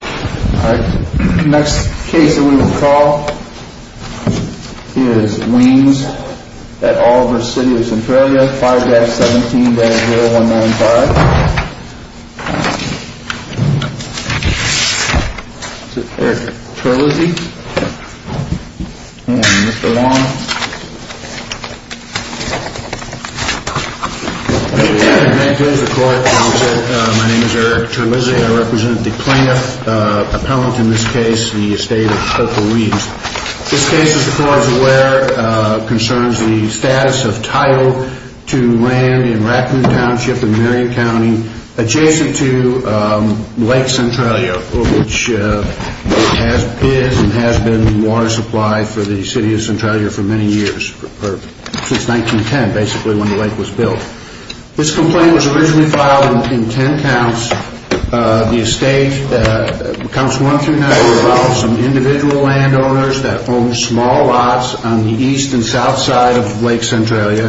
Our next case that we will call is Weems v. City of Centralia, 5-17-0195. This is Eric Terlizzi and Mr. Wong. My name is Eric Terlizzi and I represent the plaintiff appellant in this case, the estate of Opal Reeds. This case, as the court is aware, concerns the status of title to land in Raccoon Township in Marion County adjacent to Lake Centralia, which has been water supply for the City of Centralia since 1910, basically when the lake was built. This complaint was originally filed in 10 counts. Counts 1-9 were about some individual landowners that owned small lots on the east and south side of Lake Centralia.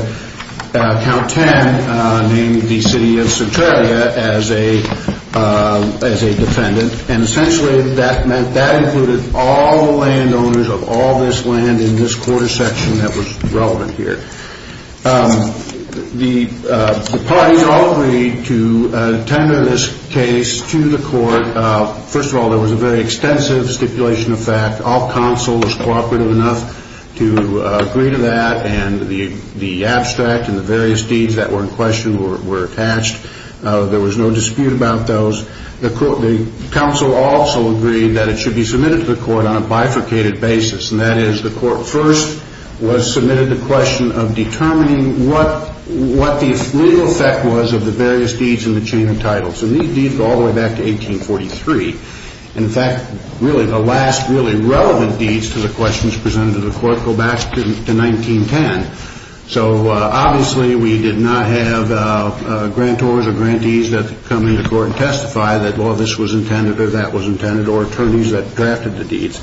Count 10 named the City of Centralia as a defendant and essentially that included all landowners of all this land in this quarter section that was relevant here. The parties all agreed to tender this case to the court. First of all, there was a very extensive stipulation of fact. All counsel was cooperative enough to agree to that and the abstract and the various deeds that were in question were attached. There was no dispute about those. The counsel also agreed that it should be submitted to the court on a bifurcated basis. That is, the court first was submitted the question of determining what the real effect was of the various deeds in the chain of titles. These deeds go all the way back to 1843. In fact, the last really relevant deeds to the questions presented to the court go back to 1910. Obviously, we did not have grantors or grantees that come into court and testify that all this was intended or that was intended or attorneys that drafted the deeds.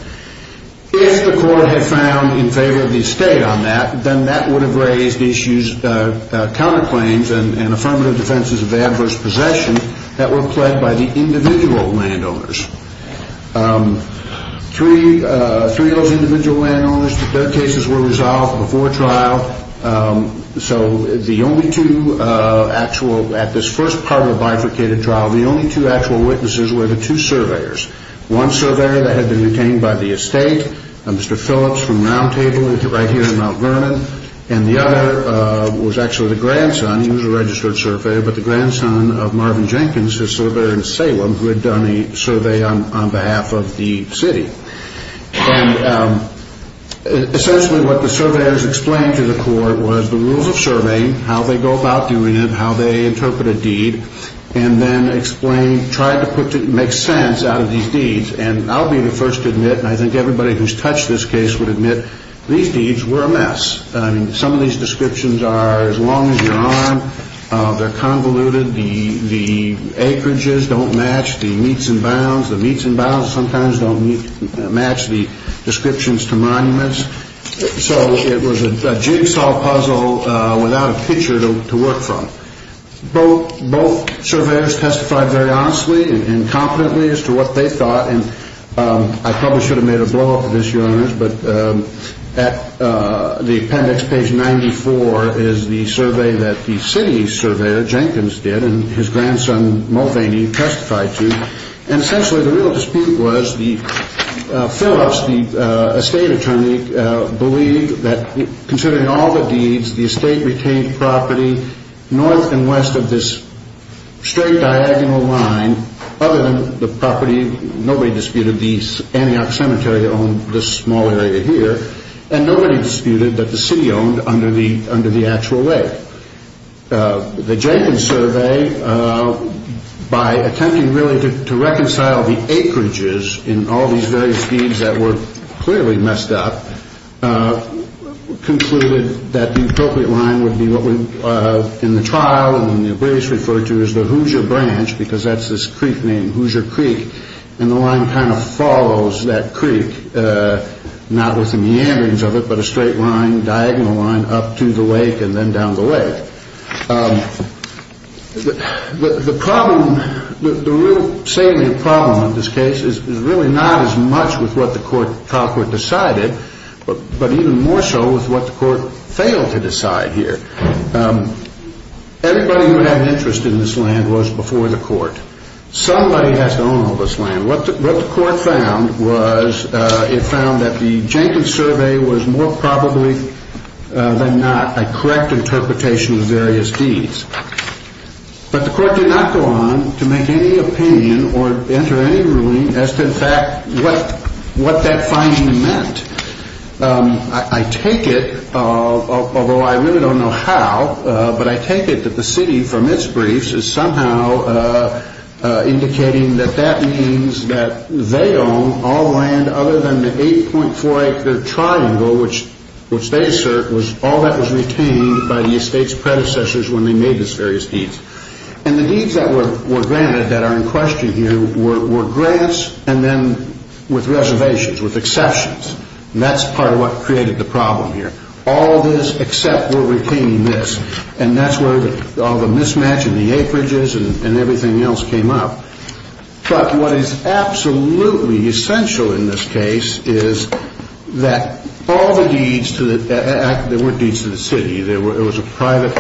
If the court had found in favor of the estate on that, then that would have raised counterclaims and affirmative defenses of adverse possession that were pled by the individual landowners. Three of those individual landowners, their cases were resolved before trial. So the only two actual, at this first part of the bifurcated trial, the only two actual witnesses were the two surveyors. One surveyor that had been retained by the estate, Mr. Phillips from Roundtable right here in Mount Vernon, and the other was actually the grandson. He was a registered surveyor, but the grandson of Marvin Jenkins, a surveyor in Salem who had done a survey on behalf of the city. And essentially what the surveyors explained to the court was the rules of surveying, how they go about doing it, how they interpret a deed, and then explained, tried to make sense out of these deeds. And I'll be the first to admit, and I think everybody who's touched this case would admit, these deeds were a mess. Some of these descriptions are as long as you're on, they're convoluted, the acreages don't match the meets and bounds, the meets and bounds sometimes don't match the descriptions to monuments. So it was a jigsaw puzzle without a picture to work from. Both surveyors testified very honestly and competently as to what they thought, and I probably should have made a blowup of this, Your Honors, but at the appendix, page 94, is the survey that the city surveyor Jenkins did and his grandson Mulvaney testified to. And essentially the real dispute was the fill-ups, the estate attorney, believed that considering all the deeds, the estate retained property north and west of this straight diagonal line, other than the property, nobody disputed, the Antioch Cemetery owned this small area here, and nobody disputed that the city owned under the actual lake. The Jenkins survey, by attempting really to reconcile the acreages in all these various deeds that were clearly messed up, concluded that the appropriate line would be what in the trial and in the abyss referred to as the Hoosier Branch, because that's this creek named Hoosier Creek, and the line kind of follows that creek, not with the meanderings of it, but a straight line, diagonal line up to the lake and then down the lake. The problem, the real salient problem in this case is really not as much with what the trial court decided, but even more so with what the court failed to decide here. Everybody who had an interest in this land was before the court. Somebody has to own all this land. What the court found was it found that the Jenkins survey was more probably than not a correct interpretation of various deeds, but the court did not go on to make any opinion or enter any ruling as to in fact what that finding meant. I take it, although I really don't know how, but I take it that the city from its briefs is somehow indicating that that means that they own all land other than the 8.4 acre triangle, which they assert was all that was retained by the estate's predecessors when they made these various deeds. And the deeds that were granted that are in question here were grants and then with reservations, with exceptions, and that's part of what created the problem here. All of this except for retaining this. And that's where all the mismatch in the acreages and everything else came up. But what is absolutely essential in this case is that all the deeds, there weren't deeds to the city. It was a private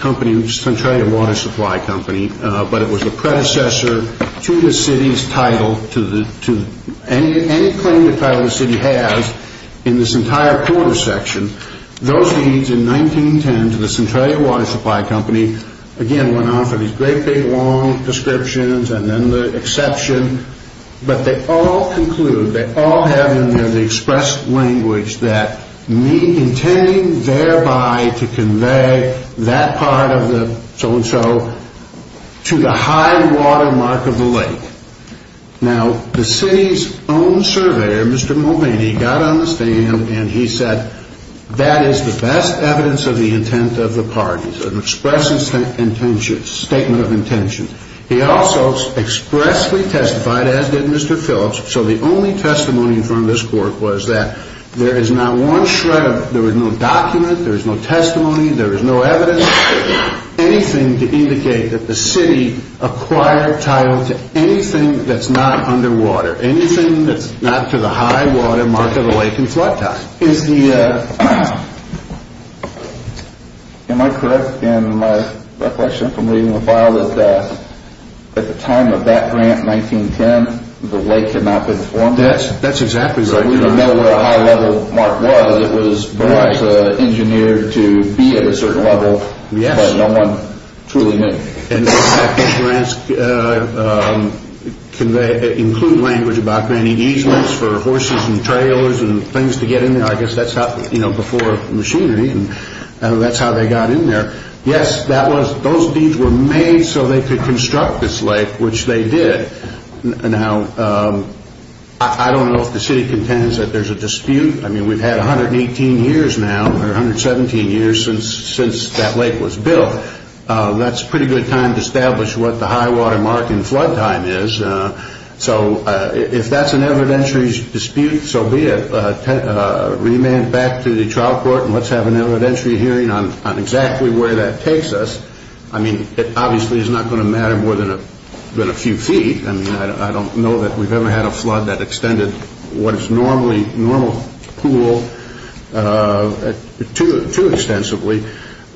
company, which is essentially a water supply company, but it was the predecessor to the city's title, to any claim the title of the city has in this entire corner section. Those deeds in 1910 to the Centralia Water Supply Company, again went on for these great big long descriptions and then the exception, but they all conclude, they all have in there the express language that intending thereby to convey that part of the so-and-so to the high water mark of the lake. Now, the city's own surveyor, Mr. Mulvaney, got on the stand and he said, that is the best evidence of the intent of the parties, an express statement of intention. He also expressly testified, as did Mr. Phillips, so the only testimony in front of this court was that there is not one shred of, there is no document, there is no testimony, there is no evidence, anything to indicate that the city acquired title to anything that's not under water, anything that's not to the high water mark of the lake in flood time. Am I correct in my reflection from reading the file that at the time of that grant in 1910, the lake had not been formed? That's exactly right. So we don't know what a high level mark was. It was engineered to be at a certain level, but no one truly knew. Can they include language about granting easements for horses and trailers and things to get in there? I guess that's how, you know, before machinery, that's how they got in there. Yes, those deeds were made so they could construct this lake, which they did. Now, I don't know if the city contends that there's a dispute. I mean, we've had 118 years now or 117 years since that lake was built. That's a pretty good time to establish what the high water mark in flood time is. So if that's an evidentiary dispute, so be it. Remand back to the trial court and let's have an evidentiary hearing on exactly where that takes us. I mean, it obviously is not going to matter more than a few feet. I mean, I don't know that we've ever had a flood that extended what is normally a normal pool too extensively.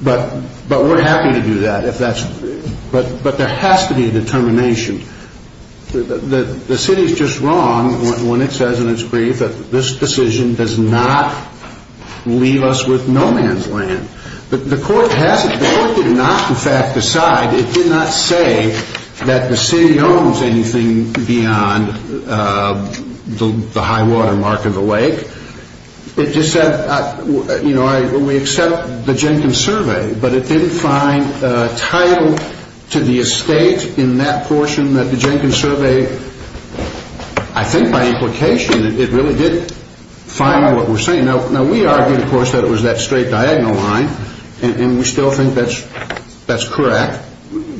But we're happy to do that if that's – but there has to be a determination. The city is just wrong when it says in its brief that this decision does not leave us with no man's land. The court has – the court did not, in fact, decide – it did not say that the city owns anything beyond the high water mark of the lake. It just said, you know, we accept the Jenkins survey, but it didn't find a title to the estate in that portion that the Jenkins survey – I think by implication it really did find what we're saying. Now, we argued, of course, that it was that straight diagonal line, and we still think that's correct.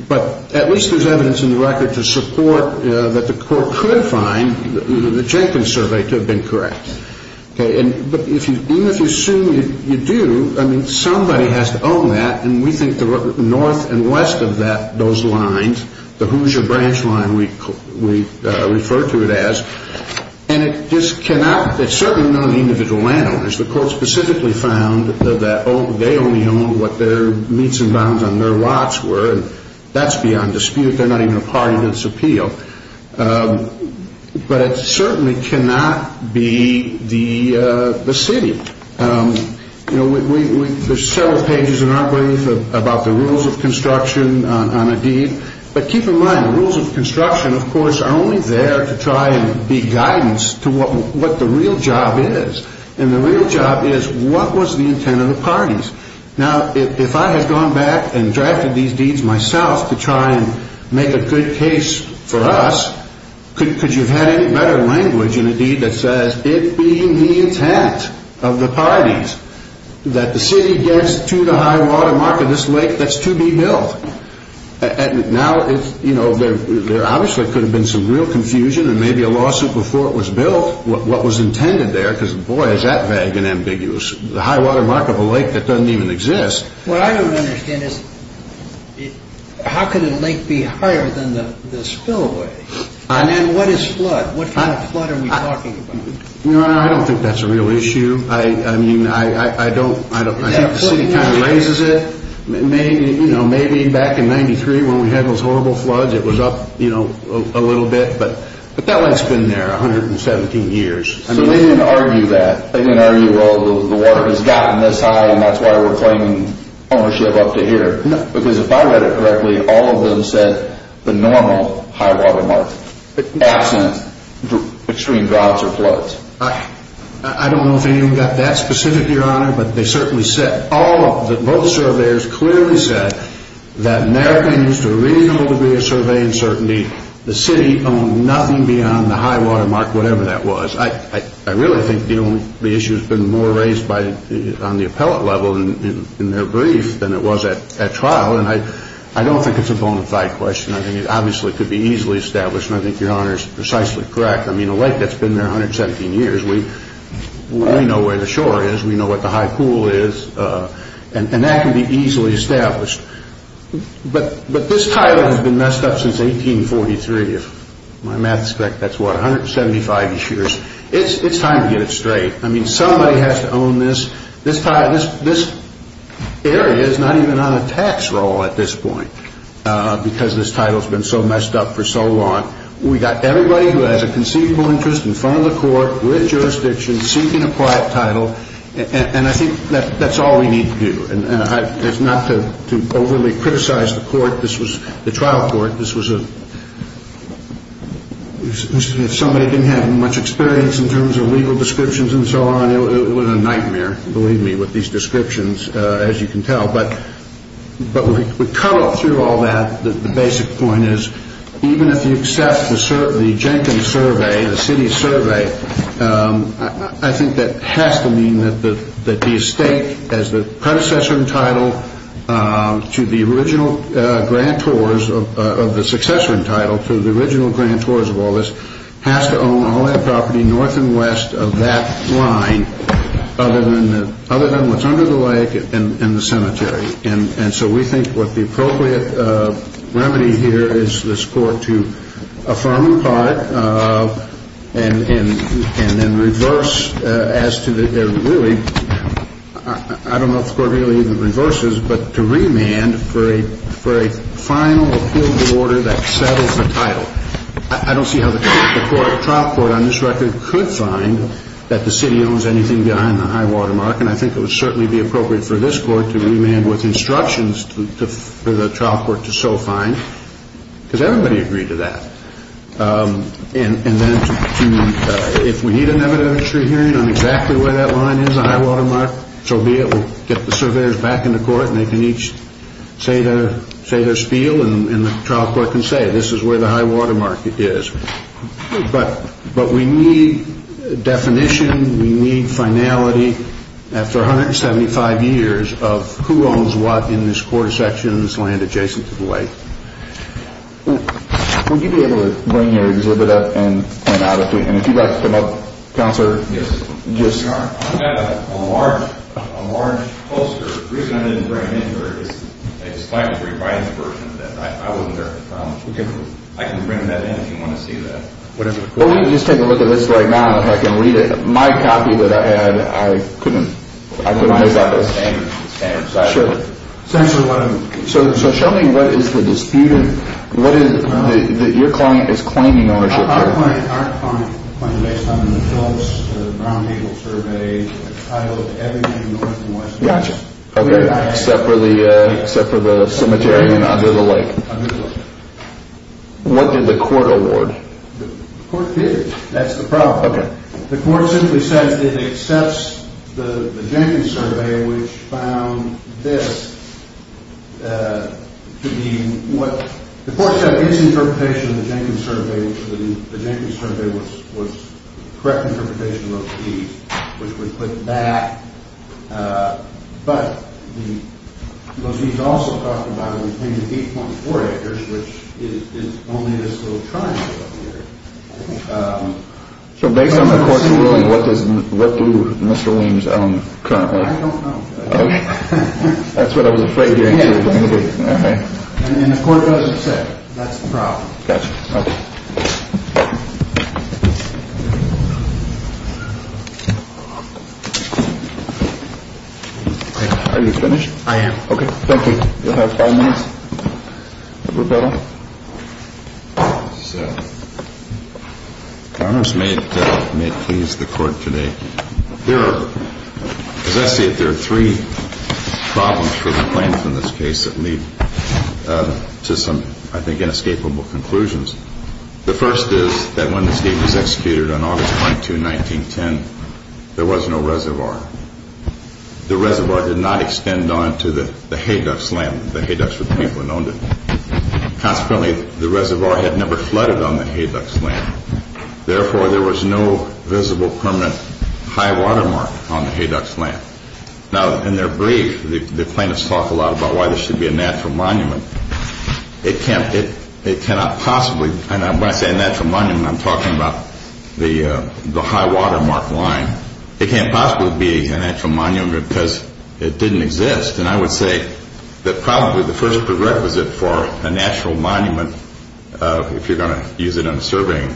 But at least there's evidence in the record to support that the court could find the Jenkins survey to have been correct. But even if you assume you do, I mean, somebody has to own that. And we think the north and west of those lines, the Hoosier branch line we refer to it as, and it just cannot – it's certainly not an individual landowner. The court specifically found that they only own what their meets and bounds on their lots were, and that's beyond dispute. They're not even a part of this appeal. But it certainly cannot be the city. You know, there's several pages in our brief about the rules of construction on a deed. But keep in mind, the rules of construction, of course, are only there to try and be guidance to what the real job is. And the real job is, what was the intent of the parties? Now, if I had gone back and drafted these deeds myself to try and make a good case for us, could you have had any better language in a deed that says, it being the intent of the parties, that the city gets to the high-water mark of this lake that's to be built? Now, you know, there obviously could have been some real confusion and maybe a lawsuit before it was built, what was intended there, because, boy, is that vague and ambiguous. The high-water mark of a lake that doesn't even exist. What I don't understand is, how could a lake be higher than the spillway? I mean, what is flood? What kind of flood are we talking about? I don't think that's a real issue. I mean, I don't, I think the city kind of raises it. Maybe, you know, maybe back in 93, when we had those horrible floods, it was up, you know, a little bit. But that lake's been there 117 years. So they didn't argue that. They didn't argue, well, the water has gotten this high and that's why we're claiming ownership up to here. No, because if I read it correctly, all of them said the normal high-water mark, absent extreme droughts or floods. I don't know if anyone got that specific, Your Honor, but they certainly said, all of the, both surveyors clearly said that in their opinion, it's too reasonable to be a survey uncertainty. The city owned nothing beyond the high-water mark, whatever that was. I really think the issue has been more raised on the appellate level in their brief than it was at trial. And I don't think it's a bona fide question. I think it obviously could be easily established. And I think Your Honor is precisely correct. I mean, a lake that's been there 117 years, we know where the shore is. We know what the high pool is. And that can be easily established. But this title has been messed up since 1843, if my math is correct. That's what, 175 years. It's time to get it straight. I mean, somebody has to own this. This area is not even on a tax roll at this point because this title has been so messed up for so long. We've got everybody who has a conceivable interest in front of the court, with jurisdiction, seeking a private title. And I think that's all we need to do. And it's not to overly criticize the court. This was the trial court. This was a – if somebody didn't have much experience in terms of legal descriptions and so on, it would have been a nightmare, believe me, with these descriptions, as you can tell. But we cut up through all that. The basic point is even if you accept the Jenkins survey, the city survey, I think that has to mean that the estate, as the predecessor in title to the original grantors of the successor in title to the original grantors of all this, has to own all that property north and west of that line other than what's under the lake and the cemetery. And so we think what the appropriate remedy here is this court to affirm in part and then reverse as to the – really, I don't know if the court really even reverses, but to remand for a final appeal to order that settles the title. I don't see how the trial court on this record could find that the city owns anything behind the high water mark. And I think it would certainly be appropriate for this court to remand with instructions for the trial court to so find, because everybody agreed to that. And then to – if we need an evidentiary hearing on exactly where that line is, the high water mark, so be it, we'll get the surveyors back in the court and they can each say their spiel, and the trial court can say this is where the high water mark is. But we need definition. We need finality after 175 years of who owns what in this court of sections land adjacent to the lake. Would you be able to bring your exhibit up and point out a few – and if you'd like to come up, Counselor? Yes. I've got a large poster. The reason I didn't bring it in here is I just like the revised version of that. I can bring that in if you want to see that. Well, let me just take a look at this right now, if I can read it. My copy that I had, I couldn't – I couldn't move that. It's the same. So show me what is the disputed – what is – that your client is claiming ownership of. Our client claims based on the films, the brown people survey, the title, everything north and west. Gotcha. Except for the cemetery and under the lake. Under the lake. What did the court award? The court did. That's the problem. Okay. The court simply says it accepts the Jenkins survey, which found this to be what – the court said its interpretation of the Jenkins survey was – the Jenkins survey was – which would put that – but the – because he's also talking about it between the 8.4 acres, which is only this little triangle up here. So based on the court's ruling, what does – what do Mr. Weems own currently? I don't know. That's what I was afraid you were going to do. And the court doesn't say it. That's the problem. Gotcha. Okay. Are you finished? I am. Okay. Thank you. You'll have five minutes. Roberto. So, Your Honor, may it please the court today. There are – as I see it, there are three problems for the plaintiff in this case that lead to some, I think, inescapable conclusions. The first is that when this deed was executed on August 22, 1910, there was no reservoir. The reservoir did not extend on to the Hayducks' land. The Hayducks were the people who owned it. Consequently, the reservoir had never flooded on the Hayducks' land. Therefore, there was no visible permanent high-water mark on the Hayducks' land. Now, in their brief, the plaintiffs talk a lot about why this should be a natural monument. It cannot possibly – and when I say a natural monument, I'm talking about the high-water mark line. It can't possibly be a natural monument because it didn't exist. And I would say that probably the first prerequisite for a natural monument, if you're going to use it in a surveying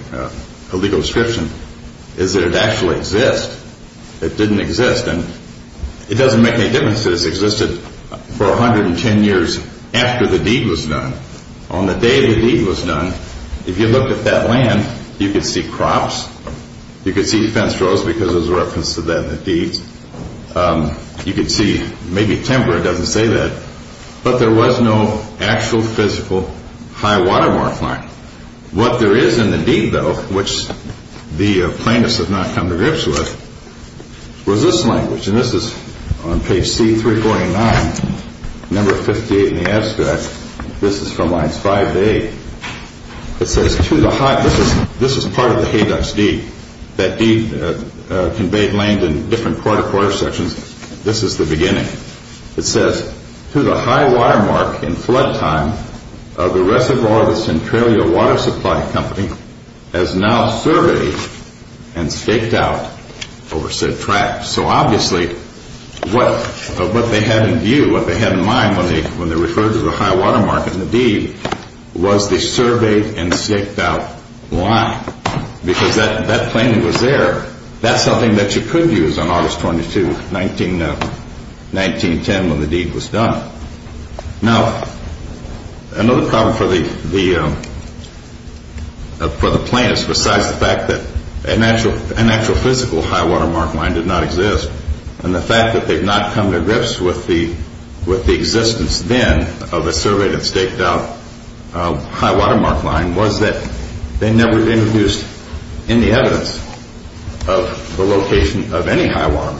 legal description, is that it actually exists. It didn't exist. And it doesn't make any difference that it existed for 110 years after the deed was done. On the day the deed was done, if you looked at that land, you could see crops. You could see fence rows because there's a reference to that in the deeds. You could see maybe timber. It doesn't say that. But there was no actual physical high-water mark line. What there is in the deed, though, which the plaintiffs have not come to grips with, was this language. And this is on page C349, number 58 in the abstract. This is from lines 5 to 8. It says, to the high – this is part of the Hayducks' deed. That deed conveyed land in different quarter-to-quarter sections. This is the beginning. It says, to the high-water mark in flood time of the reservoir of the Centralia Water Supply Company as now surveyed and staked out over said tract. So obviously what they had in view, what they had in mind when they referred to the high-water mark in the deed, was the surveyed and staked out line. Because that claim was there. That's something that you could use on August 22, 1910, when the deed was done. Now, another problem for the plaintiffs besides the fact that an actual physical high-water mark line did not exist and the fact that they've not come to grips with the existence then of a surveyed and staked out high-water mark line was that they never introduced any evidence of the location of any high-water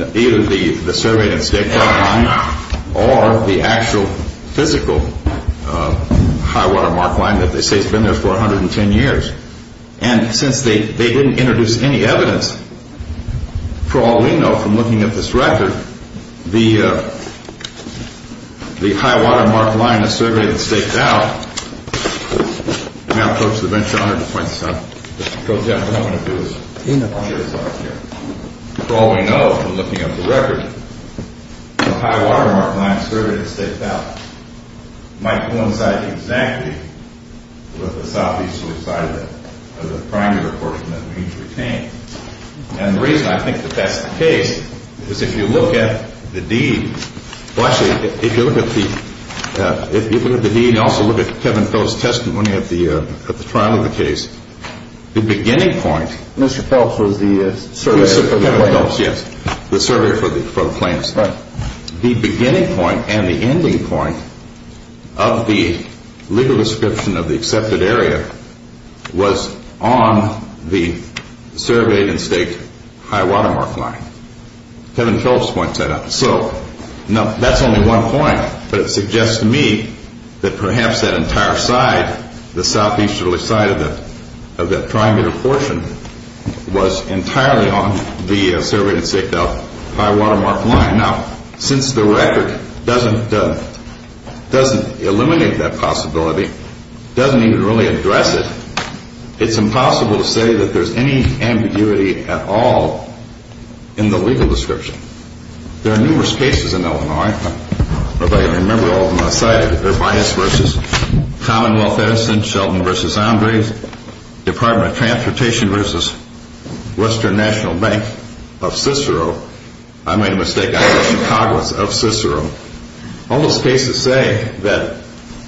mark, either the surveyed and staked out line or the actual physical high-water mark line that they say has been there for 110 years. And since they didn't introduce any evidence, for all we know from looking at this record, the high-water mark line surveyed and staked out might coincide exactly with the southeast side of the primary portion that needs to be retained. And the reason I think that that's the case is if you look at the deed, well, actually, if you look at the deed and also look at Kevin Phelps' testimony at the trial of the case, the beginning point. Mr. Phelps was the surveyor for the claims. Kevin Phelps, yes, the surveyor for the claims. Right. The beginning point and the ending point of the legal description of the accepted area was on the surveyed and staked high-water mark line. Kevin Phelps points that out. So that's only one point, but it suggests to me that perhaps that entire side, the southeasterly side of that primary portion, was entirely on the surveyed and staked out high-water mark line. Now, since the record doesn't eliminate that possibility, doesn't even really address it, it's impossible to say that there's any ambiguity at all in the legal description. There are numerous cases in Illinois. I don't know if I can remember all of them on the site. Urbias v. Commonwealth Edison, Sheldon v. Andres, Department of Transportation v. Western National Bank of Cicero. I made a mistake. Congress of Cicero. All those cases say that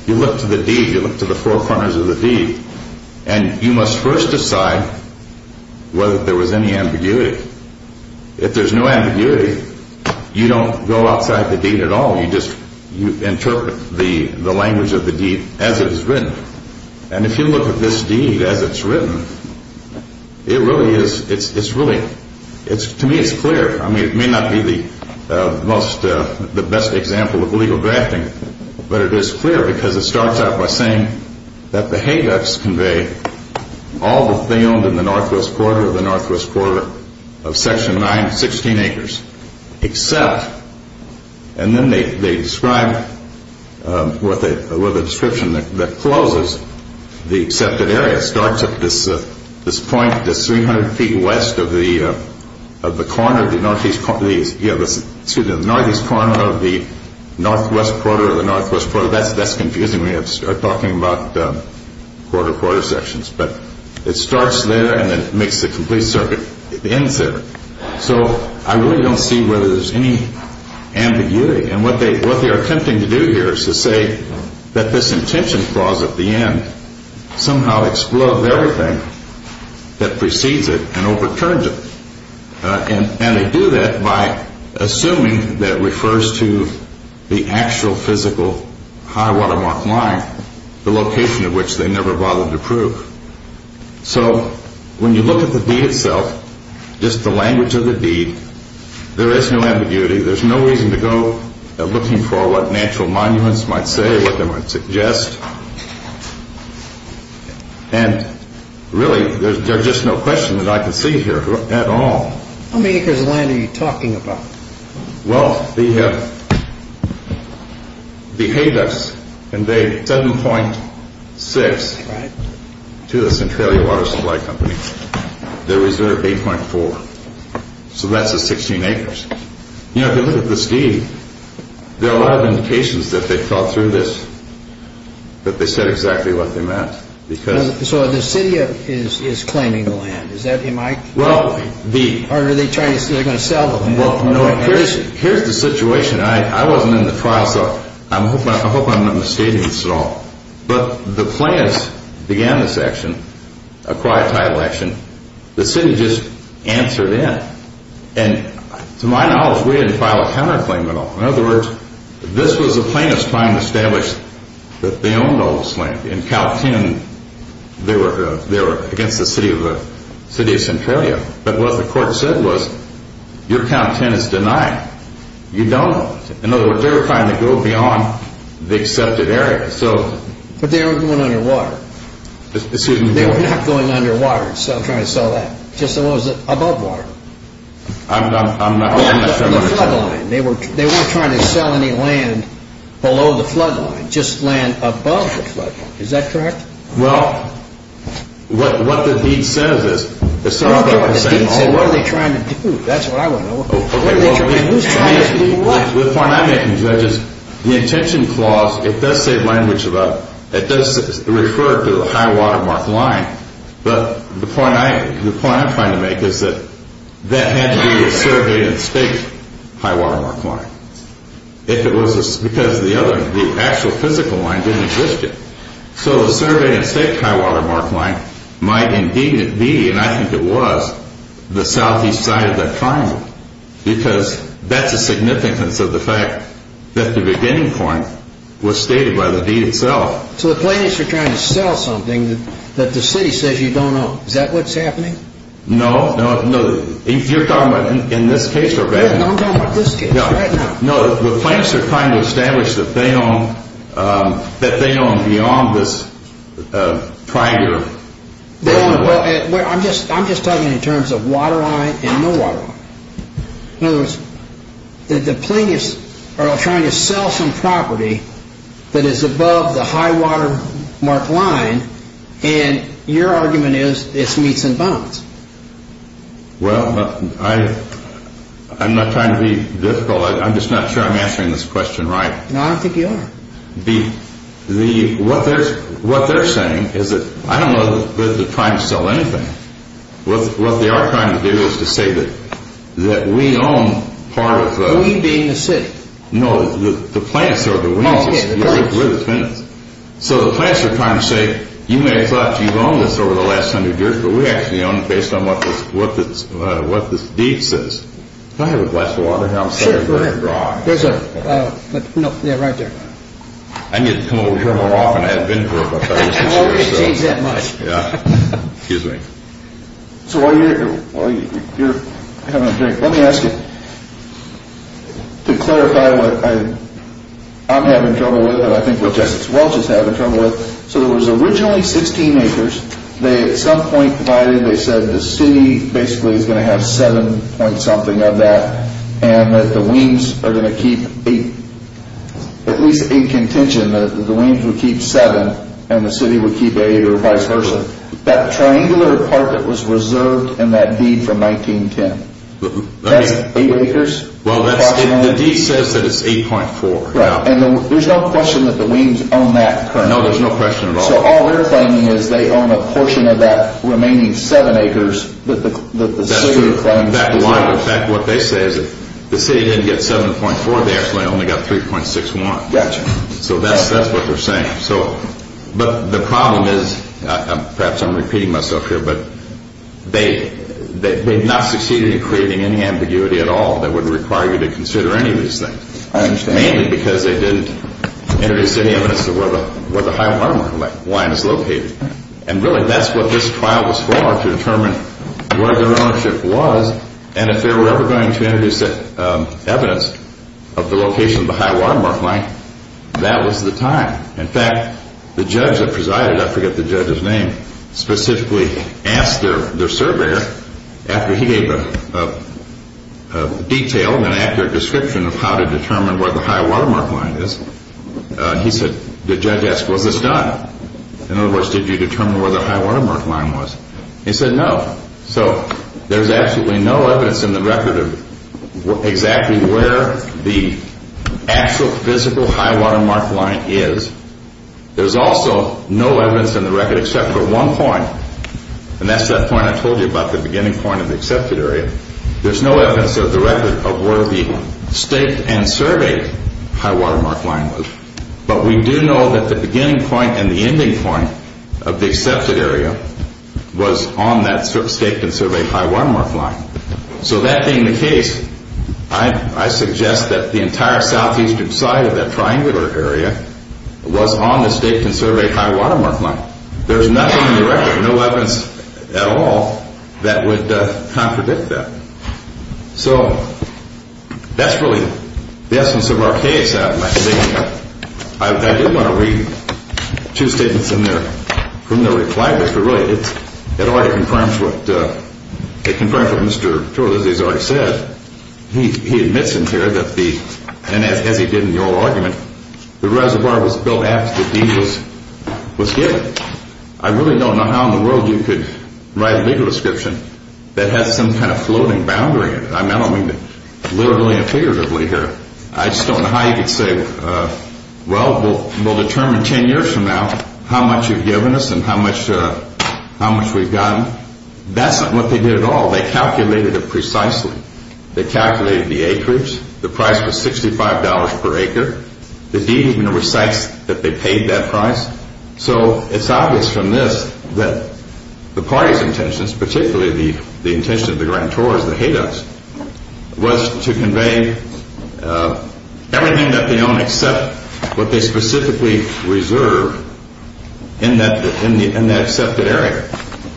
you look to the deed, you look to the four corners of the deed, and you must first decide whether there was any ambiguity. If there's no ambiguity, you don't go outside the deed at all. You just interpret the language of the deed as it is written. And if you look at this deed as it's written, it really is, it's really, to me it's clear. I mean, it may not be the most, the best example of legal drafting, but it is clear because it starts out by saying that the Hayducks convey all that they owned in the northwest quarter of the northwest quarter of Section 9, 16 acres, except, and then they describe with a description that closes the accepted area. It starts at this point, this 300 feet west of the corner of the northeast corner of the northwest quarter of the northwest quarter. That's confusing. We have to start talking about quarter quarter sections, but it starts there and it makes the complete circuit, the end circuit. So I really don't see whether there's any ambiguity. And what they are attempting to do here is to say that this intention clause at the end somehow explodes everything that precedes it and overturns it. And they do that by assuming that refers to the actual physical high watermark line, the location of which they never bothered to prove. So when you look at the deed itself, just the language of the deed, there is no ambiguity. There's no reason to go looking for what natural monuments might say, what they might suggest. And really, there's just no question that I can see here at all. How many acres of land are you talking about? Well, they paid us and they 7.6 to the Centralia Water Supply Company. They reserved 8.4. So that's the 16 acres. You know, if you look at the deed, there are a lot of indications that they thought through this, that they said exactly what they meant. So the city is claiming the land. Well, here's the situation. I wasn't in the trial, so I hope I'm not misstating this at all. But the plaintiffs began this action, acquired title action. The city just answered in. And to my knowledge, we didn't file a counterclaim at all. In other words, this was the plaintiffs trying to establish that they owned all this land. In count 10, they were against the city of Centralia. But what the court said was, your count 10 is denied. You don't. In other words, they were trying to go beyond the accepted area. But they were going underwater. Excuse me? They were not going underwater. I'm trying to sell that. Just what was it? Above water. I'm not sure I want to tell you. They weren't trying to sell any land below the flood line. Just land above the flood line. Is that correct? Well, what the deed says is... The deed says, what are they trying to do? That's what I want to know. Who's trying to do what? The point I'm making, Judge, is the intention clause, it does say language about... It does refer to a high-water mark line. But the point I'm trying to make is that that had to be a survey and state high-water mark line. Because the actual physical line didn't exist yet. So the survey and state high-water mark line might indeed be, and I think it was, the southeast side of that triangle. Because that's a significance of the fact that the beginning point was stated by the deed itself. So the plaintiffs are trying to sell something that the city says you don't own. Is that what's happening? No. You're talking about in this case already. No, I'm talking about this case right now. No, the plaintiffs are trying to establish that they don't own beyond this triangle. I'm just talking in terms of water line and no water line. In other words, the plaintiffs are trying to sell some property that is above the high-water mark line, and your argument is it's meats and bones. Well, I'm not trying to be difficult. I'm just not sure I'm answering this question right. No, I don't think you are. What they're saying is that I don't know that they're trying to sell anything. What they are trying to do is to say that we own part of the... We being the city. No, the plaintiffs are the we. Oh, okay, the plaintiffs. We're the plaintiffs. So the plaintiffs are trying to say you may have thought you've owned this over the last hundred years, but we actually own it based on what this deed says. Can I have a glass of water here? Sure, go ahead. There's a... No, yeah, right there. I need to come over here more often. I haven't been for about five or six years. I've always changed that much. Yeah. Excuse me. So while you're having a drink, let me ask you to clarify what I'm having trouble with and I think what Justice Welch is having trouble with. So there was originally 16 acres. They at some point provided, they said the city basically is going to have 7 point something of that and that the Weems are going to keep 8, at least in contention, that the Weems would keep 7 and the city would keep 8 or vice versa. That triangular part that was reserved in that deed from 1910, that's 8 acres? Well, the deed says that it's 8.4. Right, and there's no question that the Weems own that currently. No, there's no question at all. So all they're claiming is they own a portion of that remaining 7 acres that the city claims to own. That's true. In fact, what they say is if the city didn't get 7.4, they actually only got 3.61. Gotcha. So that's what they're saying. But the problem is, perhaps I'm repeating myself here, but they've not succeeded in creating any ambiguity at all that would require you to consider any of these things. I understand. Mainly because they didn't introduce any evidence of where the high watermark line is located. And really, that's what this trial was for, to determine where their ownership was. And if they were ever going to introduce evidence of the location of the high watermark line, that was the time. In fact, the judge that presided, I forget the judge's name, specifically asked their surveyor after he gave a detail and an accurate description of how to determine where the high watermark line is. He said, the judge asked, was this done? In other words, did you determine where the high watermark line was? He said no. So there's absolutely no evidence in the record of exactly where the actual physical high watermark line is. There's also no evidence in the record except for one point, and that's that point I told you about, the beginning point of the accepted area. There's no evidence of the record of where the staked and surveyed high watermark line was. But we do know that the beginning point and the ending point of the accepted area was on that staked and surveyed high watermark line. So that being the case, I suggest that the entire southeastern side of that triangular area was on the staked and surveyed high watermark line. There's nothing in the record, no evidence at all, that would contradict that. So that's really the essence of our case. I do want to read two statements from their reply, but really it already confirms what Mr. Chorlizzi has already said. He admits in here, as he did in the old argument, the reservoir was built after the deed was given. I really don't know how in the world you could write a legal description that has some kind of floating boundary. I don't mean literally and figuratively here. I just don't know how you could say, well, we'll determine 10 years from now how much you've given us and how much we've gotten. That's not what they did at all. They calculated it precisely. They calculated the acreage. The price was $65 per acre. The deed even recites that they paid that price. So it's obvious from this that the party's intentions, particularly the intention of the Grand Tours, the HATOs, was to convey everything that they own, except what they specifically reserve in that accepted area.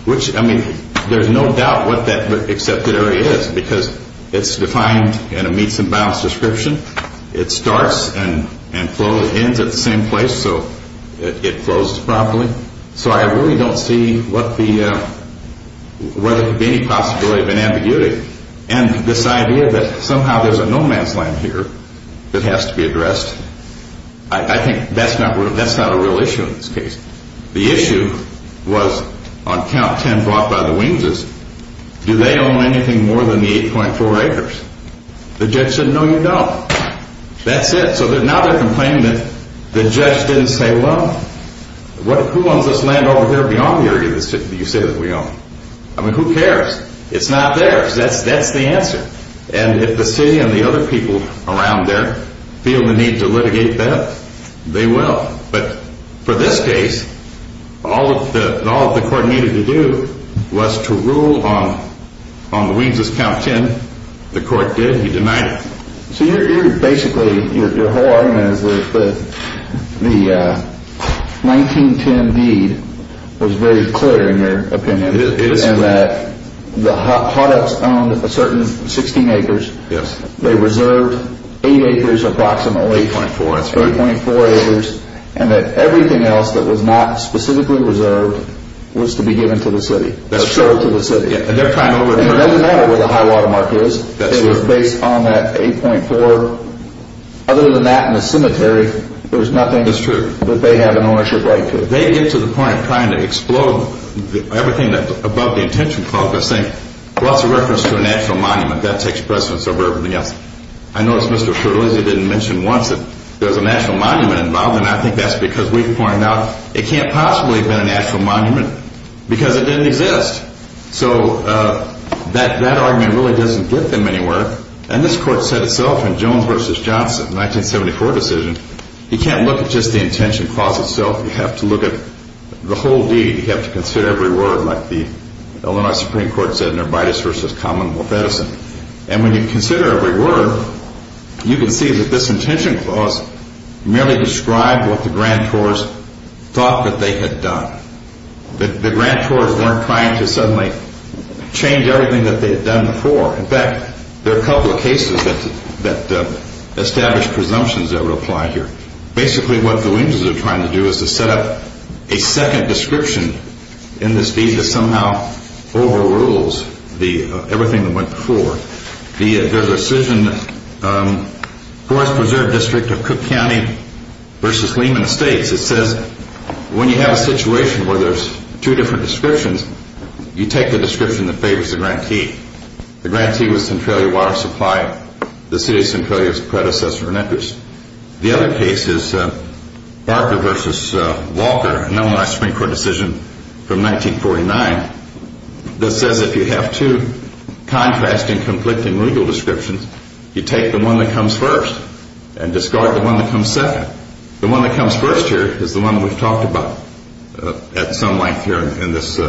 Which, I mean, there's no doubt what that accepted area is, because it's defined in a meets and bounds description. It starts and ends at the same place, so it flows properly. So I really don't see what the, whether there could be any possibility of an ambiguity. And this idea that somehow there's a no man's land here that has to be addressed, I think that's not a real issue in this case. The issue was on count 10 brought by the Wings, do they own anything more than the 8.4 acres? The judge said, no, you don't. That's it. So now they're complaining that the judge didn't say, well, who owns this land over here beyond the area you say that we own? I mean, who cares? It's not theirs. That's the answer. And if the city and the other people around there feel the need to litigate that, they will. But for this case, all that the court needed to do was to rule on the Wings' count 10. The court did. He denied it. So you're basically, your whole argument is that the 1910 deed was very clear in your opinion. It is clear. And that the Hot Ups owned a certain 16 acres. Yes. They reserved 8 acres approximately. 8.4, that's right. 8.4 acres. And that everything else that was not specifically reserved was to be given to the city. That's true. Assured to the city. And they're trying to over- It doesn't matter where the high water mark is. That's true. It was based on that 8.4. Other than that and the cemetery, there's nothing- That's true. That they have an ownership right to. They get to the point of trying to explode everything above the intention clause by saying, well, that's a reference to a national monument. That takes precedence over everything else. I noticed Mr. Scherlizzi didn't mention once that there's a national monument involved, and I think that's because we've pointed out it can't possibly have been a national monument because it didn't exist. So that argument really doesn't get them anywhere. And this court said itself in Jones v. Johnson, 1974 decision, you can't look at just the intention clause itself. You have to look at the whole deed. You have to consider every word like the Illinois Supreme Court said, Nervides v. Common, North Edison. And when you consider every word, you can see that this intention clause merely described what the grantors thought that they had done. The grantors weren't trying to suddenly change everything that they had done before. In fact, there are a couple of cases that established presumptions that would apply here. Basically, what the Winters are trying to do is to set up a second description in this deed that somehow overrules everything that went before. There's a decision, Forest Preserve District of Cook County v. Lehman States. It says when you have a situation where there's two different descriptions, you take the description that favors the grantee. The grantee was Centralia Water Supply, the city of Centralia's predecessor and interest. The other case is Barker v. Walker, an Illinois Supreme Court decision from 1949, that says if you have two contrasting conflicting legal descriptions, you take the one that comes first and discard the one that comes second. The one that comes first here is the one we've talked about at some length here in this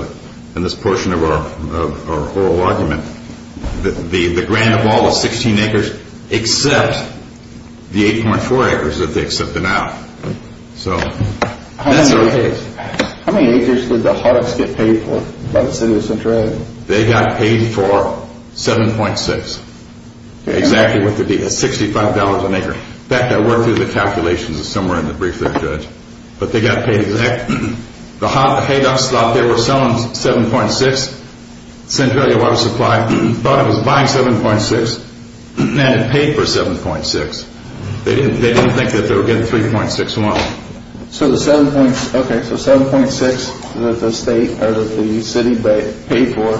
portion of our oral argument. The grant of all the 16 acres except the 8.4 acres that they accepted out. So that's their case. How many acres did the HODUCs get paid for by the city of Centralia? They got paid for 7.6. Exactly what the deed is, $65 an acre. In fact, I worked through the calculations somewhere in the brief there, Judge. But they got paid exactly... The HODUCs out there were selling 7.6. Centralia Water Supply thought it was buying 7.6 and it paid for 7.6. They didn't think that they would get the 3.61. So the 7.6 that the city paid for,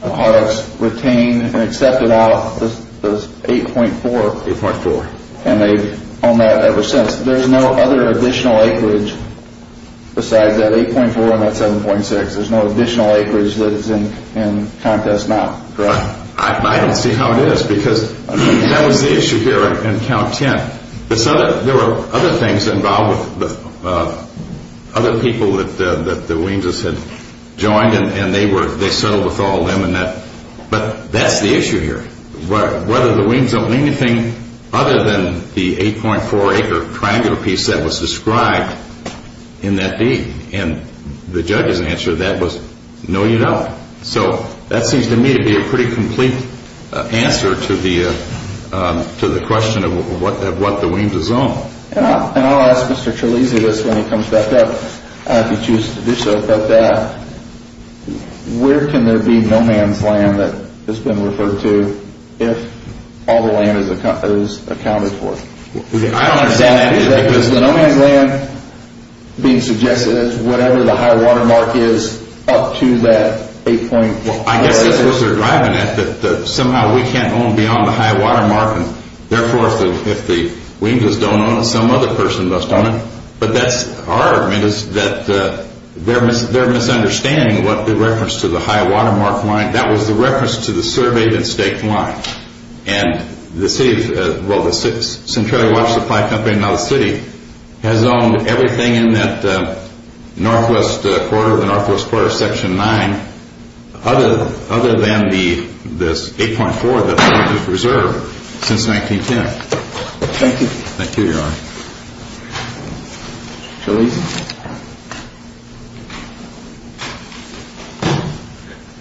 the HODUCs retained and accepted out the 8.4. 8.4. And they've owned that ever since. There's no other additional acreage besides that 8.4 and that 7.6. There's no additional acreage that's in Countess Mount, correct? I don't see how it is because that was the issue here in Count 10. There were other things involved with other people that the Wienzes had joined and they settled with all of them. But that's the issue here. Whether the Wienzes owned anything other than the 8.4 acre triangular piece that was described in that deed. And the judge's answer to that was, no, you don't. So that seems to me to be a pretty complete answer to the question of what the Wienzes owned. And I'll ask Mr. Trelizzi this when he comes back up, if he chooses to do so, where can there be no man's land that has been referred to if all the land is accounted for? I don't understand that either. The no man's land being suggested is whatever the high water mark is up to that 8.4. I guess that's what they're driving at, that somehow we can't own beyond the high water mark. Therefore, if the Wienzes don't own it, some other person must own it. But our argument is that they're misunderstanding what the reference to the high water mark line, that was the reference to the surveyed and staked line. And the city, well, the Centralia Water Supply Company, now the city, has owned everything in that northwest quarter, the northwest quarter section 9, other than the 8.4 that they've reserved since 1910. Thank you. Thank you, Your Honor. Mr. Trelizzi.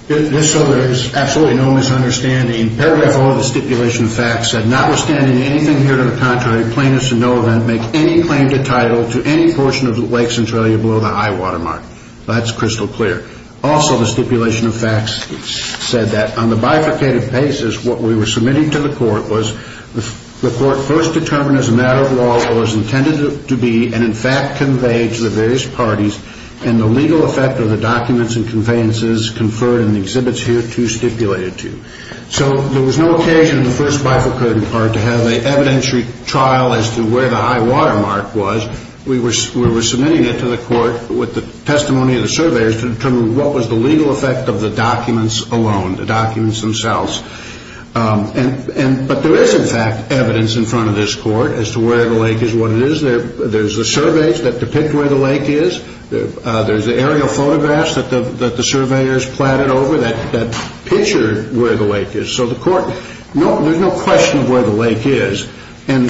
Just so there's absolutely no misunderstanding, paragraph 4 of the stipulation of facts said, notwithstanding anything here to the contrary, plaintiffs in no event make any claim to title to any portion of the lake Centralia below the high water mark. That's crystal clear. Also, the stipulation of facts said that on the bifurcated basis, what we were submitting to the court was the court first determined as a matter of law what was intended to be and, in fact, conveyed to the various parties and the legal effect of the documents and conveyances conferred in the exhibits hereto stipulated to. So there was no occasion in the first bifurcated part to have an evidentiary trial as to where the high water mark was. We were submitting it to the court with the testimony of the surveyors to determine what was the legal effect of the documents alone, the documents themselves. But there is, in fact, evidence in front of this court as to where the lake is, what it is. There's the surveys that depict where the lake is. There's the aerial photographs that the surveyors platted over that picture where the lake is. So the court, there's no question of where the lake is. And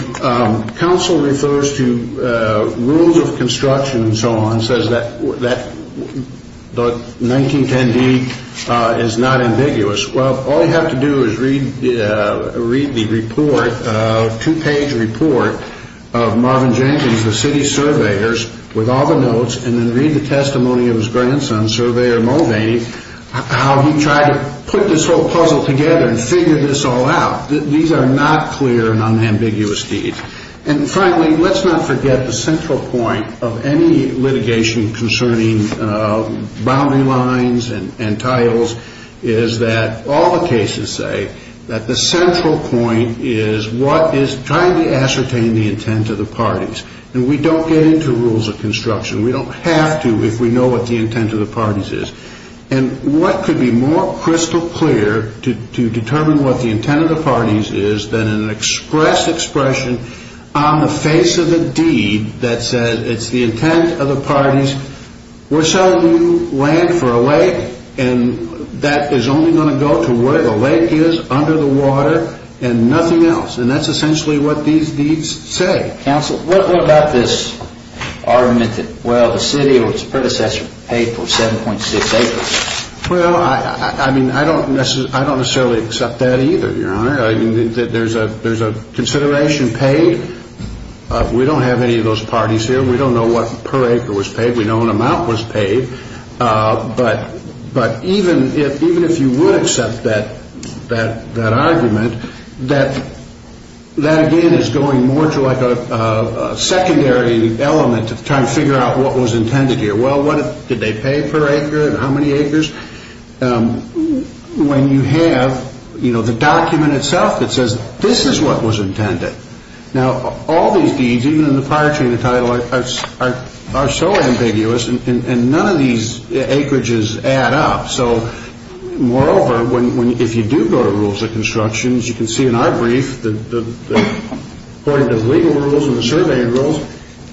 counsel refers to rules of construction and so on, says that 1910d is not ambiguous. Well, all you have to do is read the report, two-page report of Marvin Jenkins, the city surveyors, with all the notes and then read the testimony of his grandson, Surveyor Mulvaney, how he tried to put this whole puzzle together and figure this all out. These are not clear and unambiguous deeds. And finally, let's not forget the central point of any litigation concerning boundary lines and titles is that all the cases say that the central point is what is trying to ascertain the intent of the parties. And we don't get into rules of construction. We don't have to if we know what the intent of the parties is. And what could be more crystal clear to determine what the intent of the parties is than an express expression on the face of a deed that says it's the intent of the parties. We're selling you land for a lake and that is only going to go to where the lake is under the water and nothing else. And that's essentially what these deeds say. Counsel, what about this argument that, well, the city or its predecessor paid for 7.6 acres? Well, I mean, I don't necessarily accept that either, Your Honor. There's a consideration paid. We don't have any of those parties here. We don't know what per acre was paid. We know what amount was paid. But even if you would accept that argument, that again is going more to like a secondary element of trying to figure out what was intended here. Well, did they pay per acre and how many acres? When you have, you know, the document itself that says this is what was intended. Now, all these deeds, even in the prior treaty and the title, are so ambiguous and none of these acreages add up. So moreover, if you do go to rules of construction, as you can see in our brief, according to the legal rules and the surveying rules,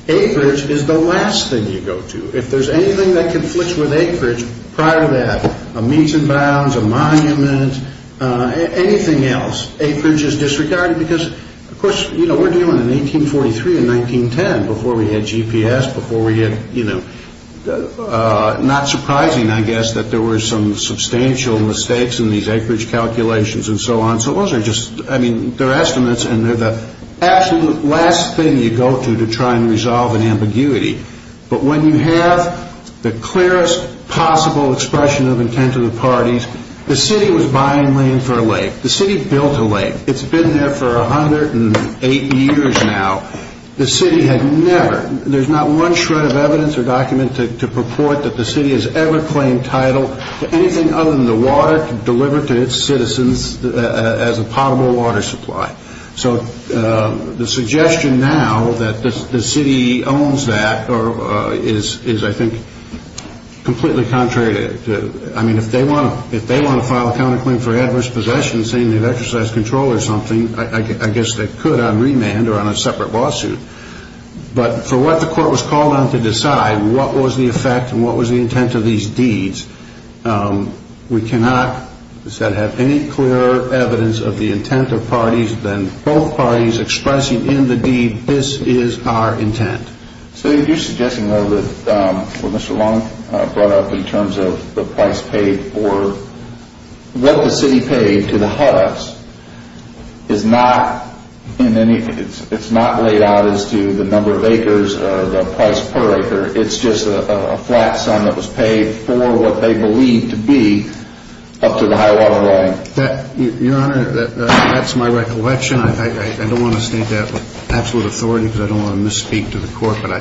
acreage is the last thing you go to. If there's anything that conflicts with acreage prior to that, a meeting bounds, a monument, anything else, acreage is disregarded because, of course, you know, we're dealing in 1843 and 1910 before we had GPS, before we had, you know, not surprising, I guess, that there were some substantial mistakes in these acreage calculations and so on. So those are just, I mean, they're estimates and they're the absolute last thing you go to to try and resolve an ambiguity. But when you have the clearest possible expression of intent of the parties, the city was buying land for a lake. The city built a lake. It's been there for 108 years now. The city had never, there's not one shred of evidence or document to purport that the city has ever claimed title to anything other than the water to deliver to its citizens as a potable water supply. So the suggestion now that the city owns that is, I think, completely contrary to, I mean, if they want to file a counterclaim for adverse possession saying they've exercised control or something, I guess they could on remand or on a separate lawsuit. But for what the court was called on to decide, what was the effect and what was the intent of these deeds, we cannot, as I said, have any clearer evidence of the intent of parties than both parties expressing in the deed, this is our intent. So you're suggesting, though, that what Mr. Long brought up in terms of the price paid for what the city paid to the HUDDUPS is not in any, it's not laid out as to the number of acres or the price per acre. It's just a flat sum that was paid for what they believed to be up to the high water line. Your Honor, that's my recollection. I don't want to state that with absolute authority because I don't want to misspeak to the court, but I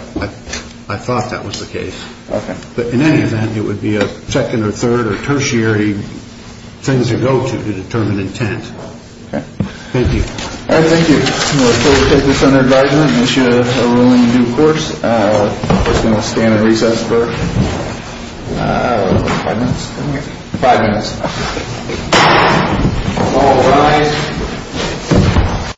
thought that was the case. But in any event, it would be a second or third or tertiary thing to go to to determine intent. Thank you. All right. Thank you. We'll take this under advisement and issue a ruling in due course. The court's going to stand at recess for five minutes. Five minutes. All rise.